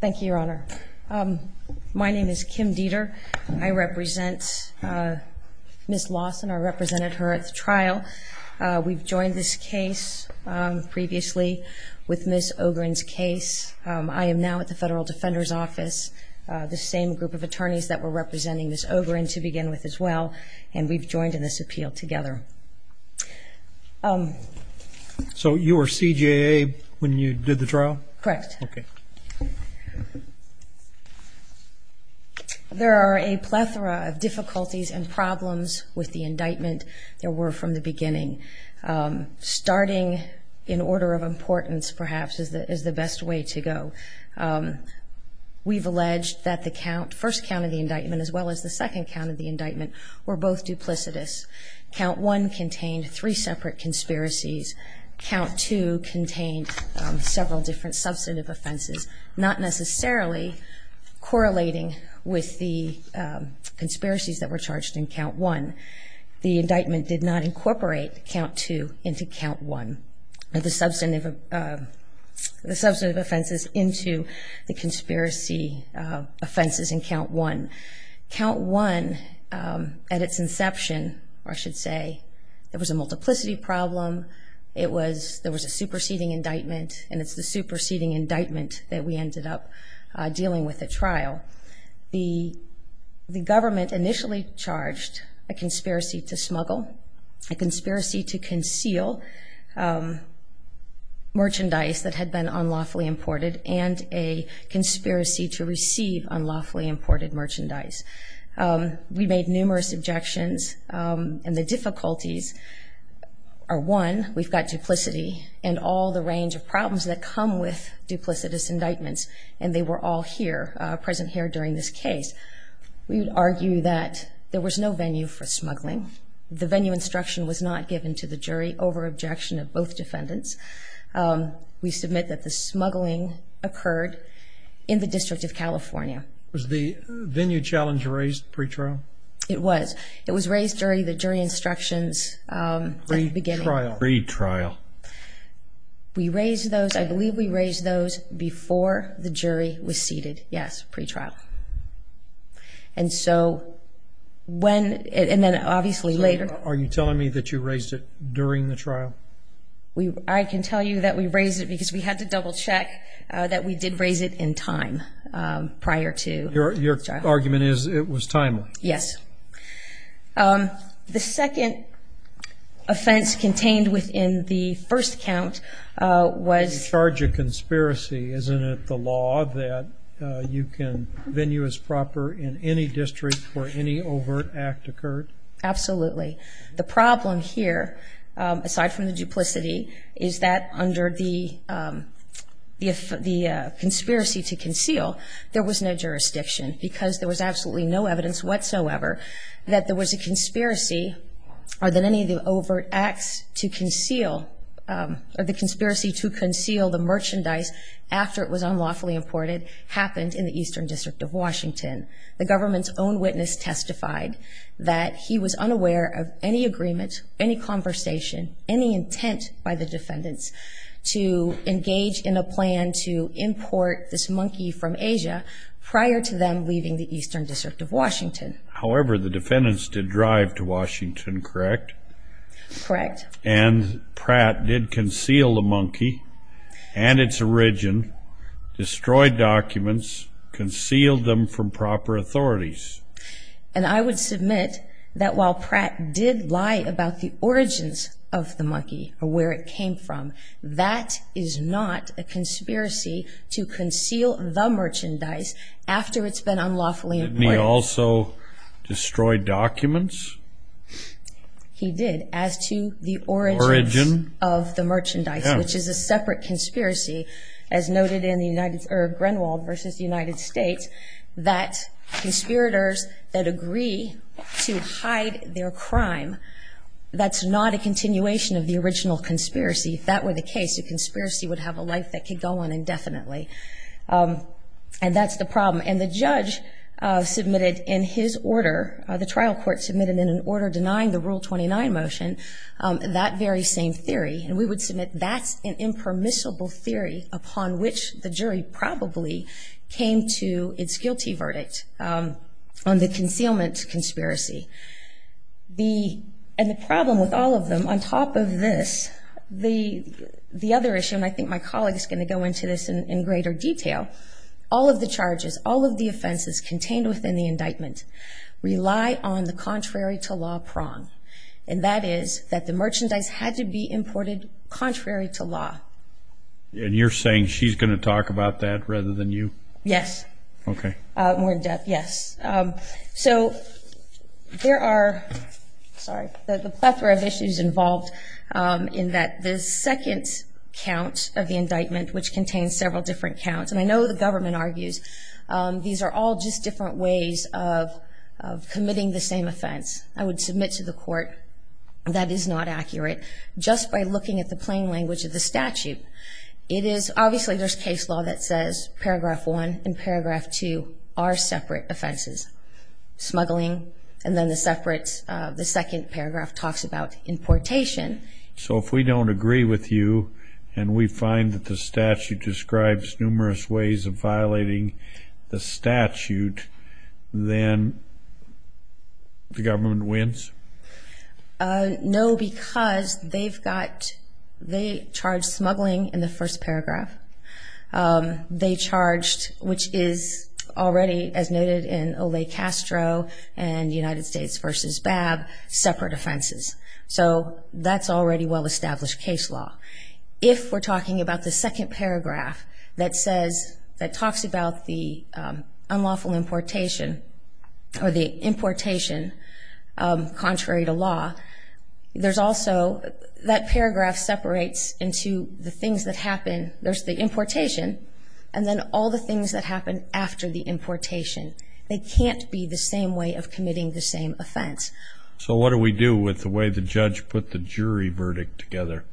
Thank you, Your Honor. My name is Kim Dieter. I represent Ms. Lawson. I represented her at the trial. We've joined this case previously with Ms. Ogren's case. I am now at the Federal Defender's Office, the same group of attorneys that were representing Ms. Ogren to begin with as well, and we've joined in this appeal together. Okay. So you were CJA when you did the trial? Correct. Okay. There are a plethora of difficulties and problems with the indictment. There were from the beginning. Starting in order of importance, perhaps, is the best way to go. We've alleged that the first count of the indictment as well as the second count of the indictment were both duplicitous. Count one contained three separate conspiracies. Count two contained several different substantive offenses, not necessarily correlating with the conspiracies that were charged in count one. The indictment did not incorporate count two into count one, the substantive offenses into the conspiracy offenses in count one. Count one, at its inception, or I should say, there was a multiplicity problem. There was a superseding indictment, and it's the superseding indictment that we ended up dealing with at trial. The government initially charged a conspiracy to smuggle, a conspiracy to conceal merchandise that had been unlawfully imported, and a conspiracy to receive unlawfully imported merchandise. We made numerous objections, and the difficulties are, one, we've got duplicity and all the range of problems that come with duplicitous indictments, and they were all here, present here during this case. We would argue that there was no venue for smuggling. The venue instruction was not given to the jury over objection of both defendants. We submit that the smuggling occurred in the District of California. Was the venue challenge raised pre-trial? It was. It was raised during the jury instructions at the beginning. Pre-trial. Pre-trial. We raised those, I believe we raised those before the jury was seated, yes, pre-trial. And so, when, and then obviously later. So, are you telling me that you raised it during the trial? I can tell you that we raised it because we had to double check that we did raise it in time prior to trial. Your argument is it was timely? Yes. The second offense contained within the first count was... You charge a conspiracy, isn't it the law that you can, venue is proper in any district where any overt act occurred? Absolutely. The problem here, aside from the duplicity, is that under the conspiracy to conceal, there was no jurisdiction. Because there was absolutely no evidence whatsoever that there was a conspiracy or that any of the overt acts to conceal, or the conspiracy to conceal the merchandise after it was unlawfully imported, happened in the Eastern District of Washington. The government's own witness testified that he was unaware of any agreement, any conversation, any intent by the defendants to engage in a plan to import this monkey from Asia prior to them leaving the Eastern District of Washington. However, the defendants did drive to Washington, correct? Correct. And Pratt did conceal the monkey and its origin, destroyed documents, concealed them from proper authorities. And I would submit that while Pratt did lie about the origins of the monkey or where it came from, that is not a conspiracy to conceal the merchandise after it's been unlawfully imported. Didn't he also destroy documents? He did, as to the origins of the merchandise, which is a separate conspiracy, as noted in Grenwald v. United States, that conspirators that agree to hide their crime, that's not a continuation of the original conspiracy. If that were the case, a conspiracy would have a life that could go on indefinitely. And that's the problem. And the judge submitted in his order, the trial court submitted in an order denying the Rule 29 motion, that very same theory. And we would submit that's an impermissible theory upon which the jury probably came to its guilty verdict on the concealment conspiracy. And the problem with all of them, on top of this, the other issue, and I think my colleague is going to go into this in greater detail, all of the charges, all of the offenses contained within the indictment rely on the contrary to law prong. And that is that the merchandise had to be imported contrary to law. And you're saying she's going to talk about that rather than you? Yes. Okay. More in depth, yes. So there are, sorry, the plethora of issues involved in that the second count of the indictment, which contains several different counts, and I know the government argues these are all just different ways of committing the same offense. I would submit to the court that is not accurate just by looking at the plain language of the statute. It is, obviously there's case law that says paragraph one and paragraph two are separate offenses, smuggling, and then the second paragraph talks about importation. So if we don't agree with you and we find that the statute describes numerous ways of violating the statute, then the government wins? No, because they've got, they charge smuggling in the first paragraph. They charged, which is already as noted in Olay Castro and United States v. Babb, separate offenses. So that's already well-established case law. If we're talking about the second paragraph that says, that talks about the unlawful importation or the importation contrary to law, there's also, that paragraph separates into the things that happen, there's the importation, and then all the things that happen after the importation. They can't be the same way of committing the same offense. So what do we do with the way the judge put the jury verdict together?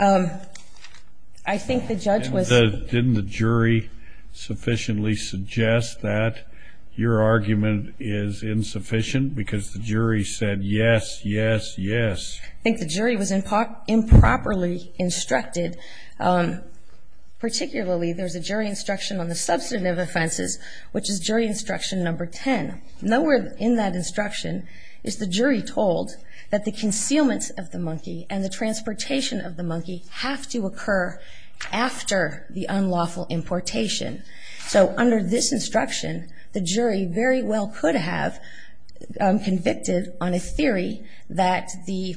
I think the judge was. Didn't the jury sufficiently suggest that your argument is insufficient because the jury said, yes, yes, yes? I think the jury was improperly instructed. Particularly, there's a jury instruction on the substantive offenses, which is jury instruction number 10. Nowhere in that instruction is the jury told that the concealment of the monkey and the transportation of the monkey have to occur after the unlawful importation. So under this instruction, the jury very well could have convicted on a theory that the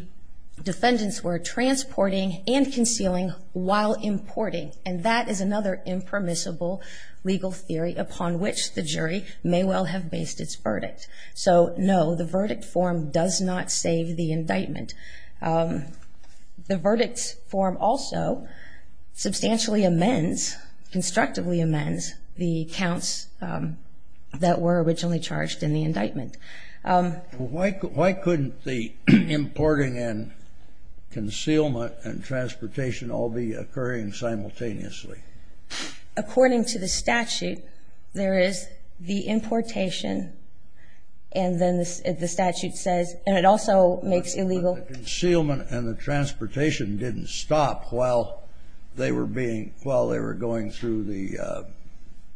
defendants were transporting and concealing while importing, and that is another impermissible legal theory upon which the jury may well have based its verdict. So, no, the verdict form does not save the indictment. The verdict form also substantially amends, constructively amends, the counts that were originally charged in the indictment. Why couldn't the importing and concealment and transportation all be occurring simultaneously? According to the statute, there is the importation, and then the statute says, and it also makes illegal. But the concealment and the transportation didn't stop while they were being, while they were going through the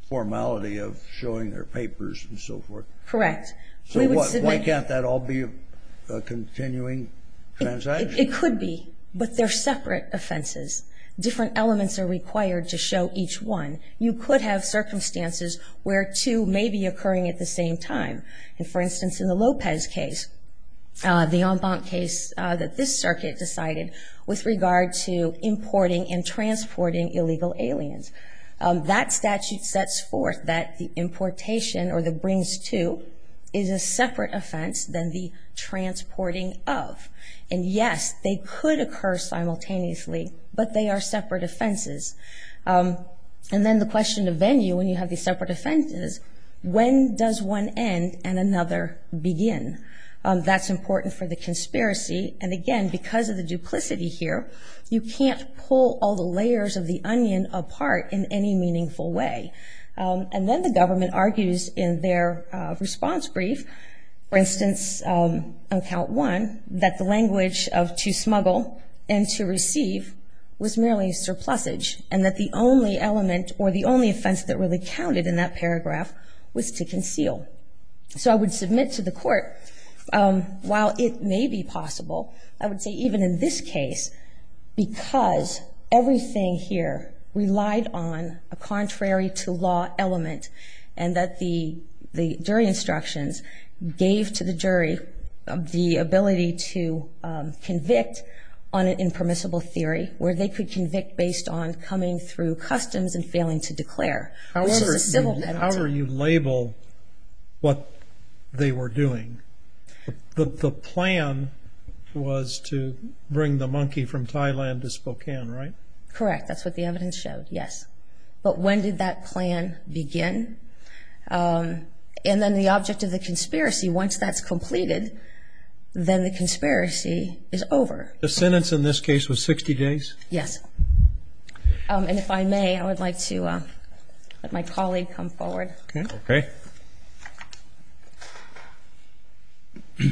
formality of showing their papers and so forth. Correct. So why can't that all be a continuing transaction? It could be, but they're separate offenses. Different elements are required to show each one. You could have circumstances where two may be occurring at the same time. And, for instance, in the Lopez case, the en banc case that this circuit decided, with regard to importing and transporting illegal aliens, that statute sets forth that the importation, or the brings to, is a separate offense than the transporting of. And, yes, they could occur simultaneously, but they are separate offenses. And then the question of venue, when you have these separate offenses, when does one end and another begin? That's important for the conspiracy. And, again, because of the duplicity here, you can't pull all the layers of the onion apart in any meaningful way. And then the government argues in their response brief, for instance, on Count 1, that the language of to smuggle and to receive was merely a surplusage, and that the only element or the only offense that really counted in that paragraph was to conceal. So I would submit to the court, while it may be possible, I would say even in this case, because everything here relied on a contrary-to-law element, and that the jury instructions gave to the jury the ability to convict on an impermissible theory, where they could convict based on coming through customs and failing to declare. However you label what they were doing, the plan was to bring the monkey from Thailand to Spokane, right? Correct. That's what the evidence showed, yes. But when did that plan begin? And then the object of the conspiracy, once that's completed, then the conspiracy is over. The sentence in this case was 60 days? Yes. And if I may, I would like to let my colleague come forward. Okay. Good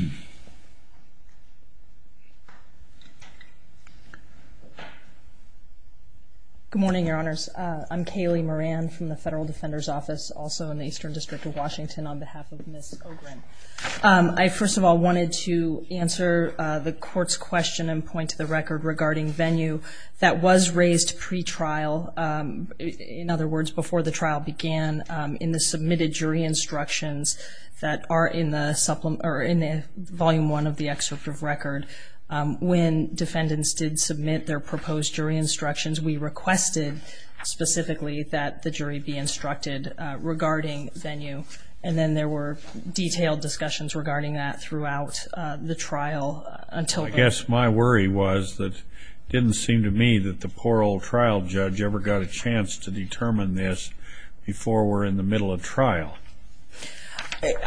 morning, Your Honors. I'm Kaylee Moran from the Federal Defender's Office, also in the Eastern District of Washington, on behalf of Ms. Ogren. I first of all wanted to answer the court's question and point to the record regarding venue. That was raised pretrial, in other words, before the trial began, in the submitted jury instructions that are in Volume 1 of the excerpt of record. When defendants did submit their proposed jury instructions, we requested specifically that the jury be instructed regarding venue. And then there were detailed discussions regarding that throughout the trial until then. I guess my worry was that it didn't seem to me that the poor old trial judge ever got a chance to determine this before we're in the middle of trial.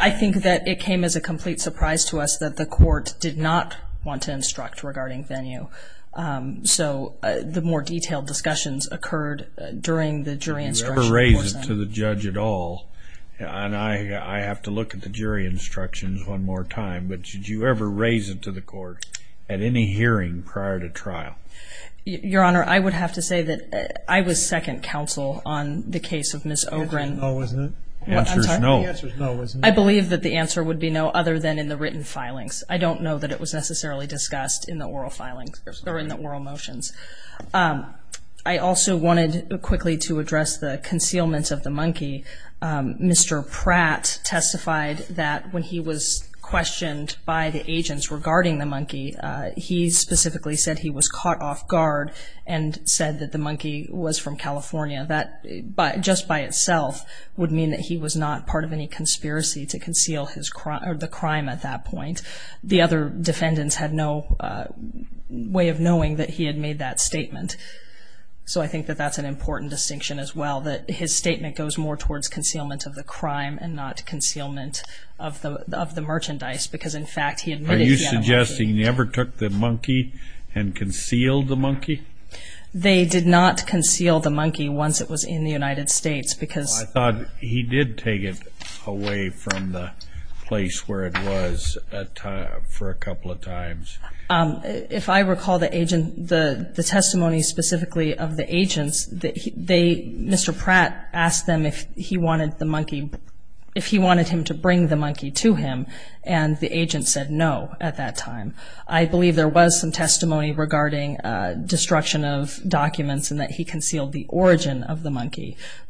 I think that it came as a complete surprise to us that the court did not want to instruct regarding venue. So the more detailed discussions occurred during the jury instruction. Did you ever raise it to the judge at all? I have to look at the jury instructions one more time, but did you ever raise it to the court at any hearing prior to trial? Your Honor, I would have to say that I was second counsel on the case of Ms. Ogren. The answer is no, isn't it? The answer is no. The answer is no, isn't it? I believe that the answer would be no other than in the written filings. I don't know that it was necessarily discussed in the oral motions. I also wanted quickly to address the concealment of the monkey. Mr. Pratt testified that when he was questioned by the agents regarding the monkey, he specifically said he was caught off guard and said that the monkey was from California. That just by itself would mean that he was not part of any conspiracy to conceal the crime at that point. The other defendants had no way of knowing that he had made that statement. So I think that that's an important distinction as well, that his statement goes more towards concealment of the crime and not concealment of the merchandise because, in fact, he admitted he had a monkey. Are you suggesting he never took the monkey and concealed the monkey? They did not conceal the monkey once it was in the United States because – I thought he did take it away from the place where it was for a couple of times. If I recall the testimony specifically of the agents, Mr. Pratt asked them if he wanted the monkey, if he wanted him to bring the monkey to him, and the agent said no at that time. I believe there was some testimony regarding destruction of documents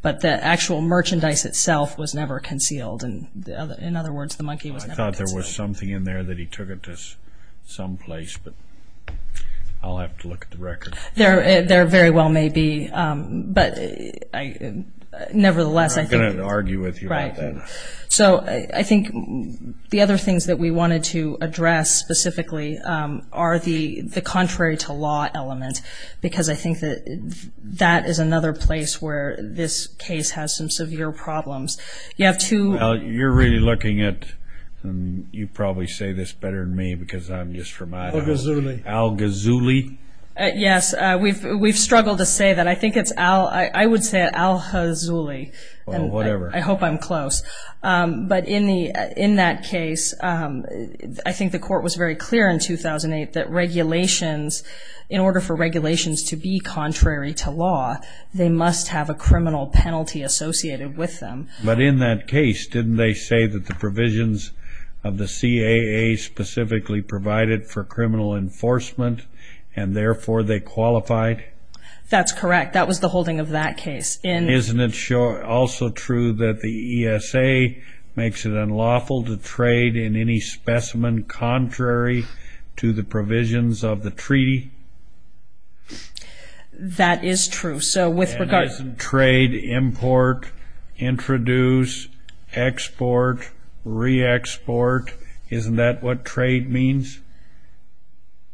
but the actual merchandise itself was never concealed. In other words, the monkey was never concealed. I thought there was something in there that he took it to some place, but I'll have to look at the record. There very well may be, but nevertheless, I think – I'm not going to argue with you on that. Right. So I think the other things that we wanted to address specifically are the contrary to law element because I think that that is another place where this case has some severe problems. You have two – You're really looking at – you probably say this better than me because I'm just from Idaho. Al-Ghazouli. Al-Ghazouli? Yes. We've struggled to say that. I think it's Al – I would say Al-Ghazouli. Whatever. I hope I'm close. But in that case, I think the court was very clear in 2008 that regulations – in order for regulations to be contrary to law, they must have a criminal penalty associated with them. But in that case, didn't they say that the provisions of the CAA specifically provided for criminal enforcement and therefore they qualified? That's correct. That was the holding of that case. Isn't it also true that the ESA makes it unlawful to trade in any specimen contrary to the provisions of the treaty? That is true. And isn't trade, import, introduce, export, re-export, isn't that what trade means?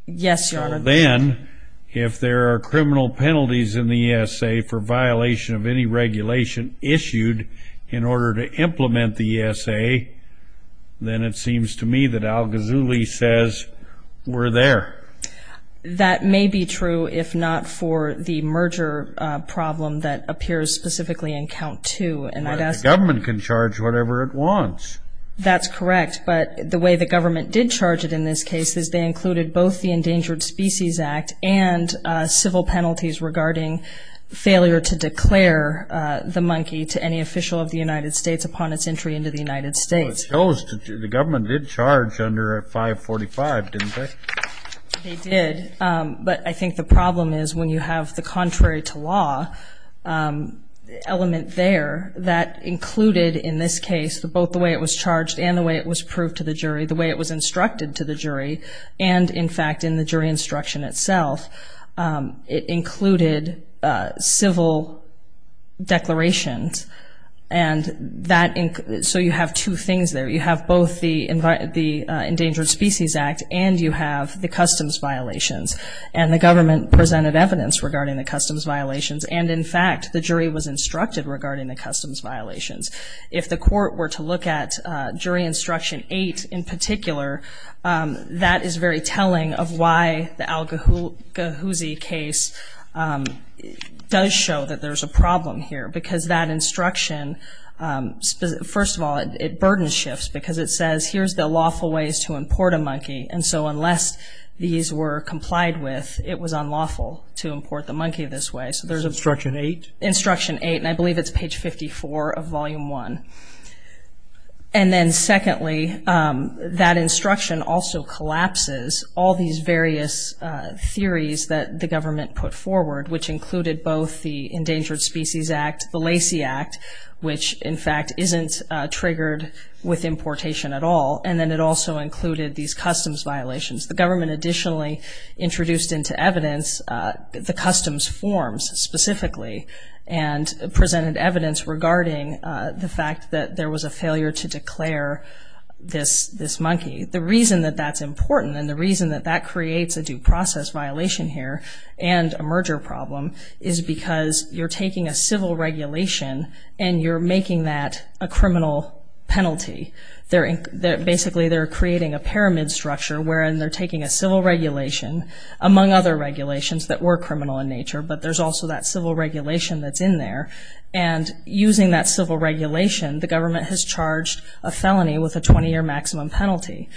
Yes, Your Honor. Then, if there are criminal penalties in the ESA for violation of any regulation issued in order to implement the ESA, then it seems to me that Al-Ghazouli says we're there. That may be true if not for the merger problem that appears specifically in Count 2. The government can charge whatever it wants. That's correct. But the way the government did charge it in this case is they included both the Endangered Species Act and civil penalties regarding failure to declare the monkey to any official of the United States upon its entry into the United States. Well, it shows the government did charge under 545, didn't they? They did. But I think the problem is when you have the contrary to law element there, that included in this case both the way it was charged and the way it was proved to the jury, the way it was instructed to the jury, and, in fact, in the jury instruction itself, it included civil declarations. And so you have two things there. You have both the Endangered Species Act and you have the customs violations. And the government presented evidence regarding the customs violations, and, in fact, the jury was instructed regarding the customs violations. If the court were to look at jury instruction 8 in particular, that is very telling of why the Al-Ghuzi case does show that there's a problem here, because that instruction, first of all, it burden shifts, because it says here's the lawful ways to import a monkey, and so unless these were complied with, it was unlawful to import the monkey this way. So there's instruction 8? And I believe it's page 54 of Volume 1. And then, secondly, that instruction also collapses all these various theories that the government put forward, which included both the Endangered Species Act, the Lacey Act, which, in fact, isn't triggered with importation at all, and then it also included these customs violations. The government additionally introduced into evidence the customs forms specifically and presented evidence regarding the fact that there was a failure to declare this monkey. The reason that that's important and the reason that that creates a due process violation here and a merger problem is because you're taking a civil regulation and you're making that a criminal penalty. Basically, they're creating a pyramid structure wherein they're taking a civil regulation, among other regulations that were criminal in nature, but there's also that civil regulation that's in there, and using that civil regulation, the government has charged a felony with a 20-year maximum penalty.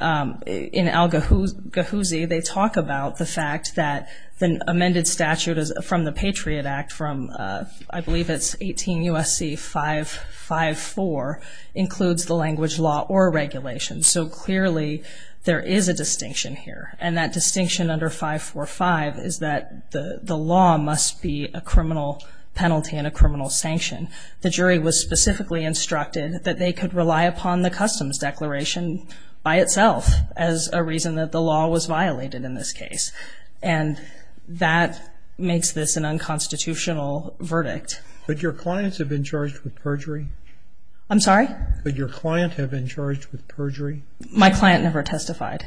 In Al-Ghazi, they talk about the fact that the amended statute from the Patriot Act from, I believe it's 18 U.S.C. 554, includes the language law or regulation. So clearly, there is a distinction here, and that distinction under 545 is that the law must be a criminal penalty and a criminal sanction. The jury was specifically instructed that they could rely upon the customs declaration by itself as a reason that the law was violated in this case, and that makes this an unconstitutional verdict. Could your clients have been charged with perjury? I'm sorry? Could your client have been charged with perjury? My client never testified.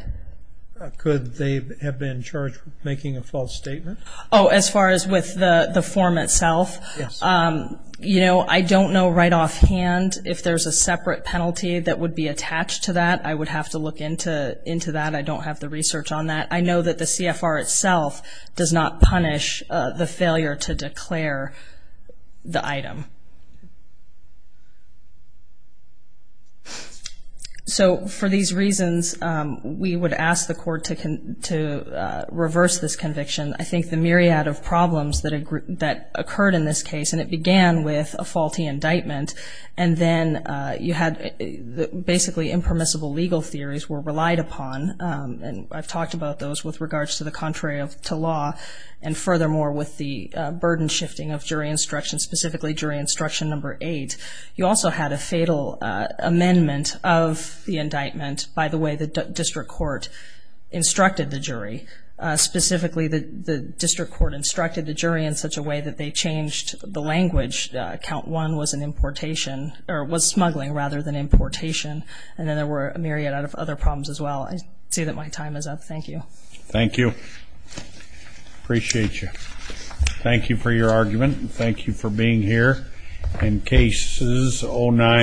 Could they have been charged with making a false statement? Oh, as far as with the form itself? Yes. You know, I don't know right offhand if there's a separate penalty that would be attached to that. I would have to look into that. I don't have the research on that. I know that the CFR itself does not punish the failure to declare the item. So for these reasons, we would ask the court to reverse this conviction. I think the myriad of problems that occurred in this case, and it began with a faulty indictment, and then you had basically impermissible legal theories were relied upon, and I've talked about those with regards to the contrary to law, and furthermore with the burden shifting of jury instruction, specifically jury instruction number eight. You also had a fatal amendment of the indictment by the way the district court instructed the jury. Specifically, the district court instructed the jury in such a way that they changed the language. Count one was an importation or was smuggling rather than importation, and then there were a myriad of other problems as well. I see that my time is up. Thank you. Thank you. Appreciate you. Thank you for your argument. Thank you for being here. In cases 0-9.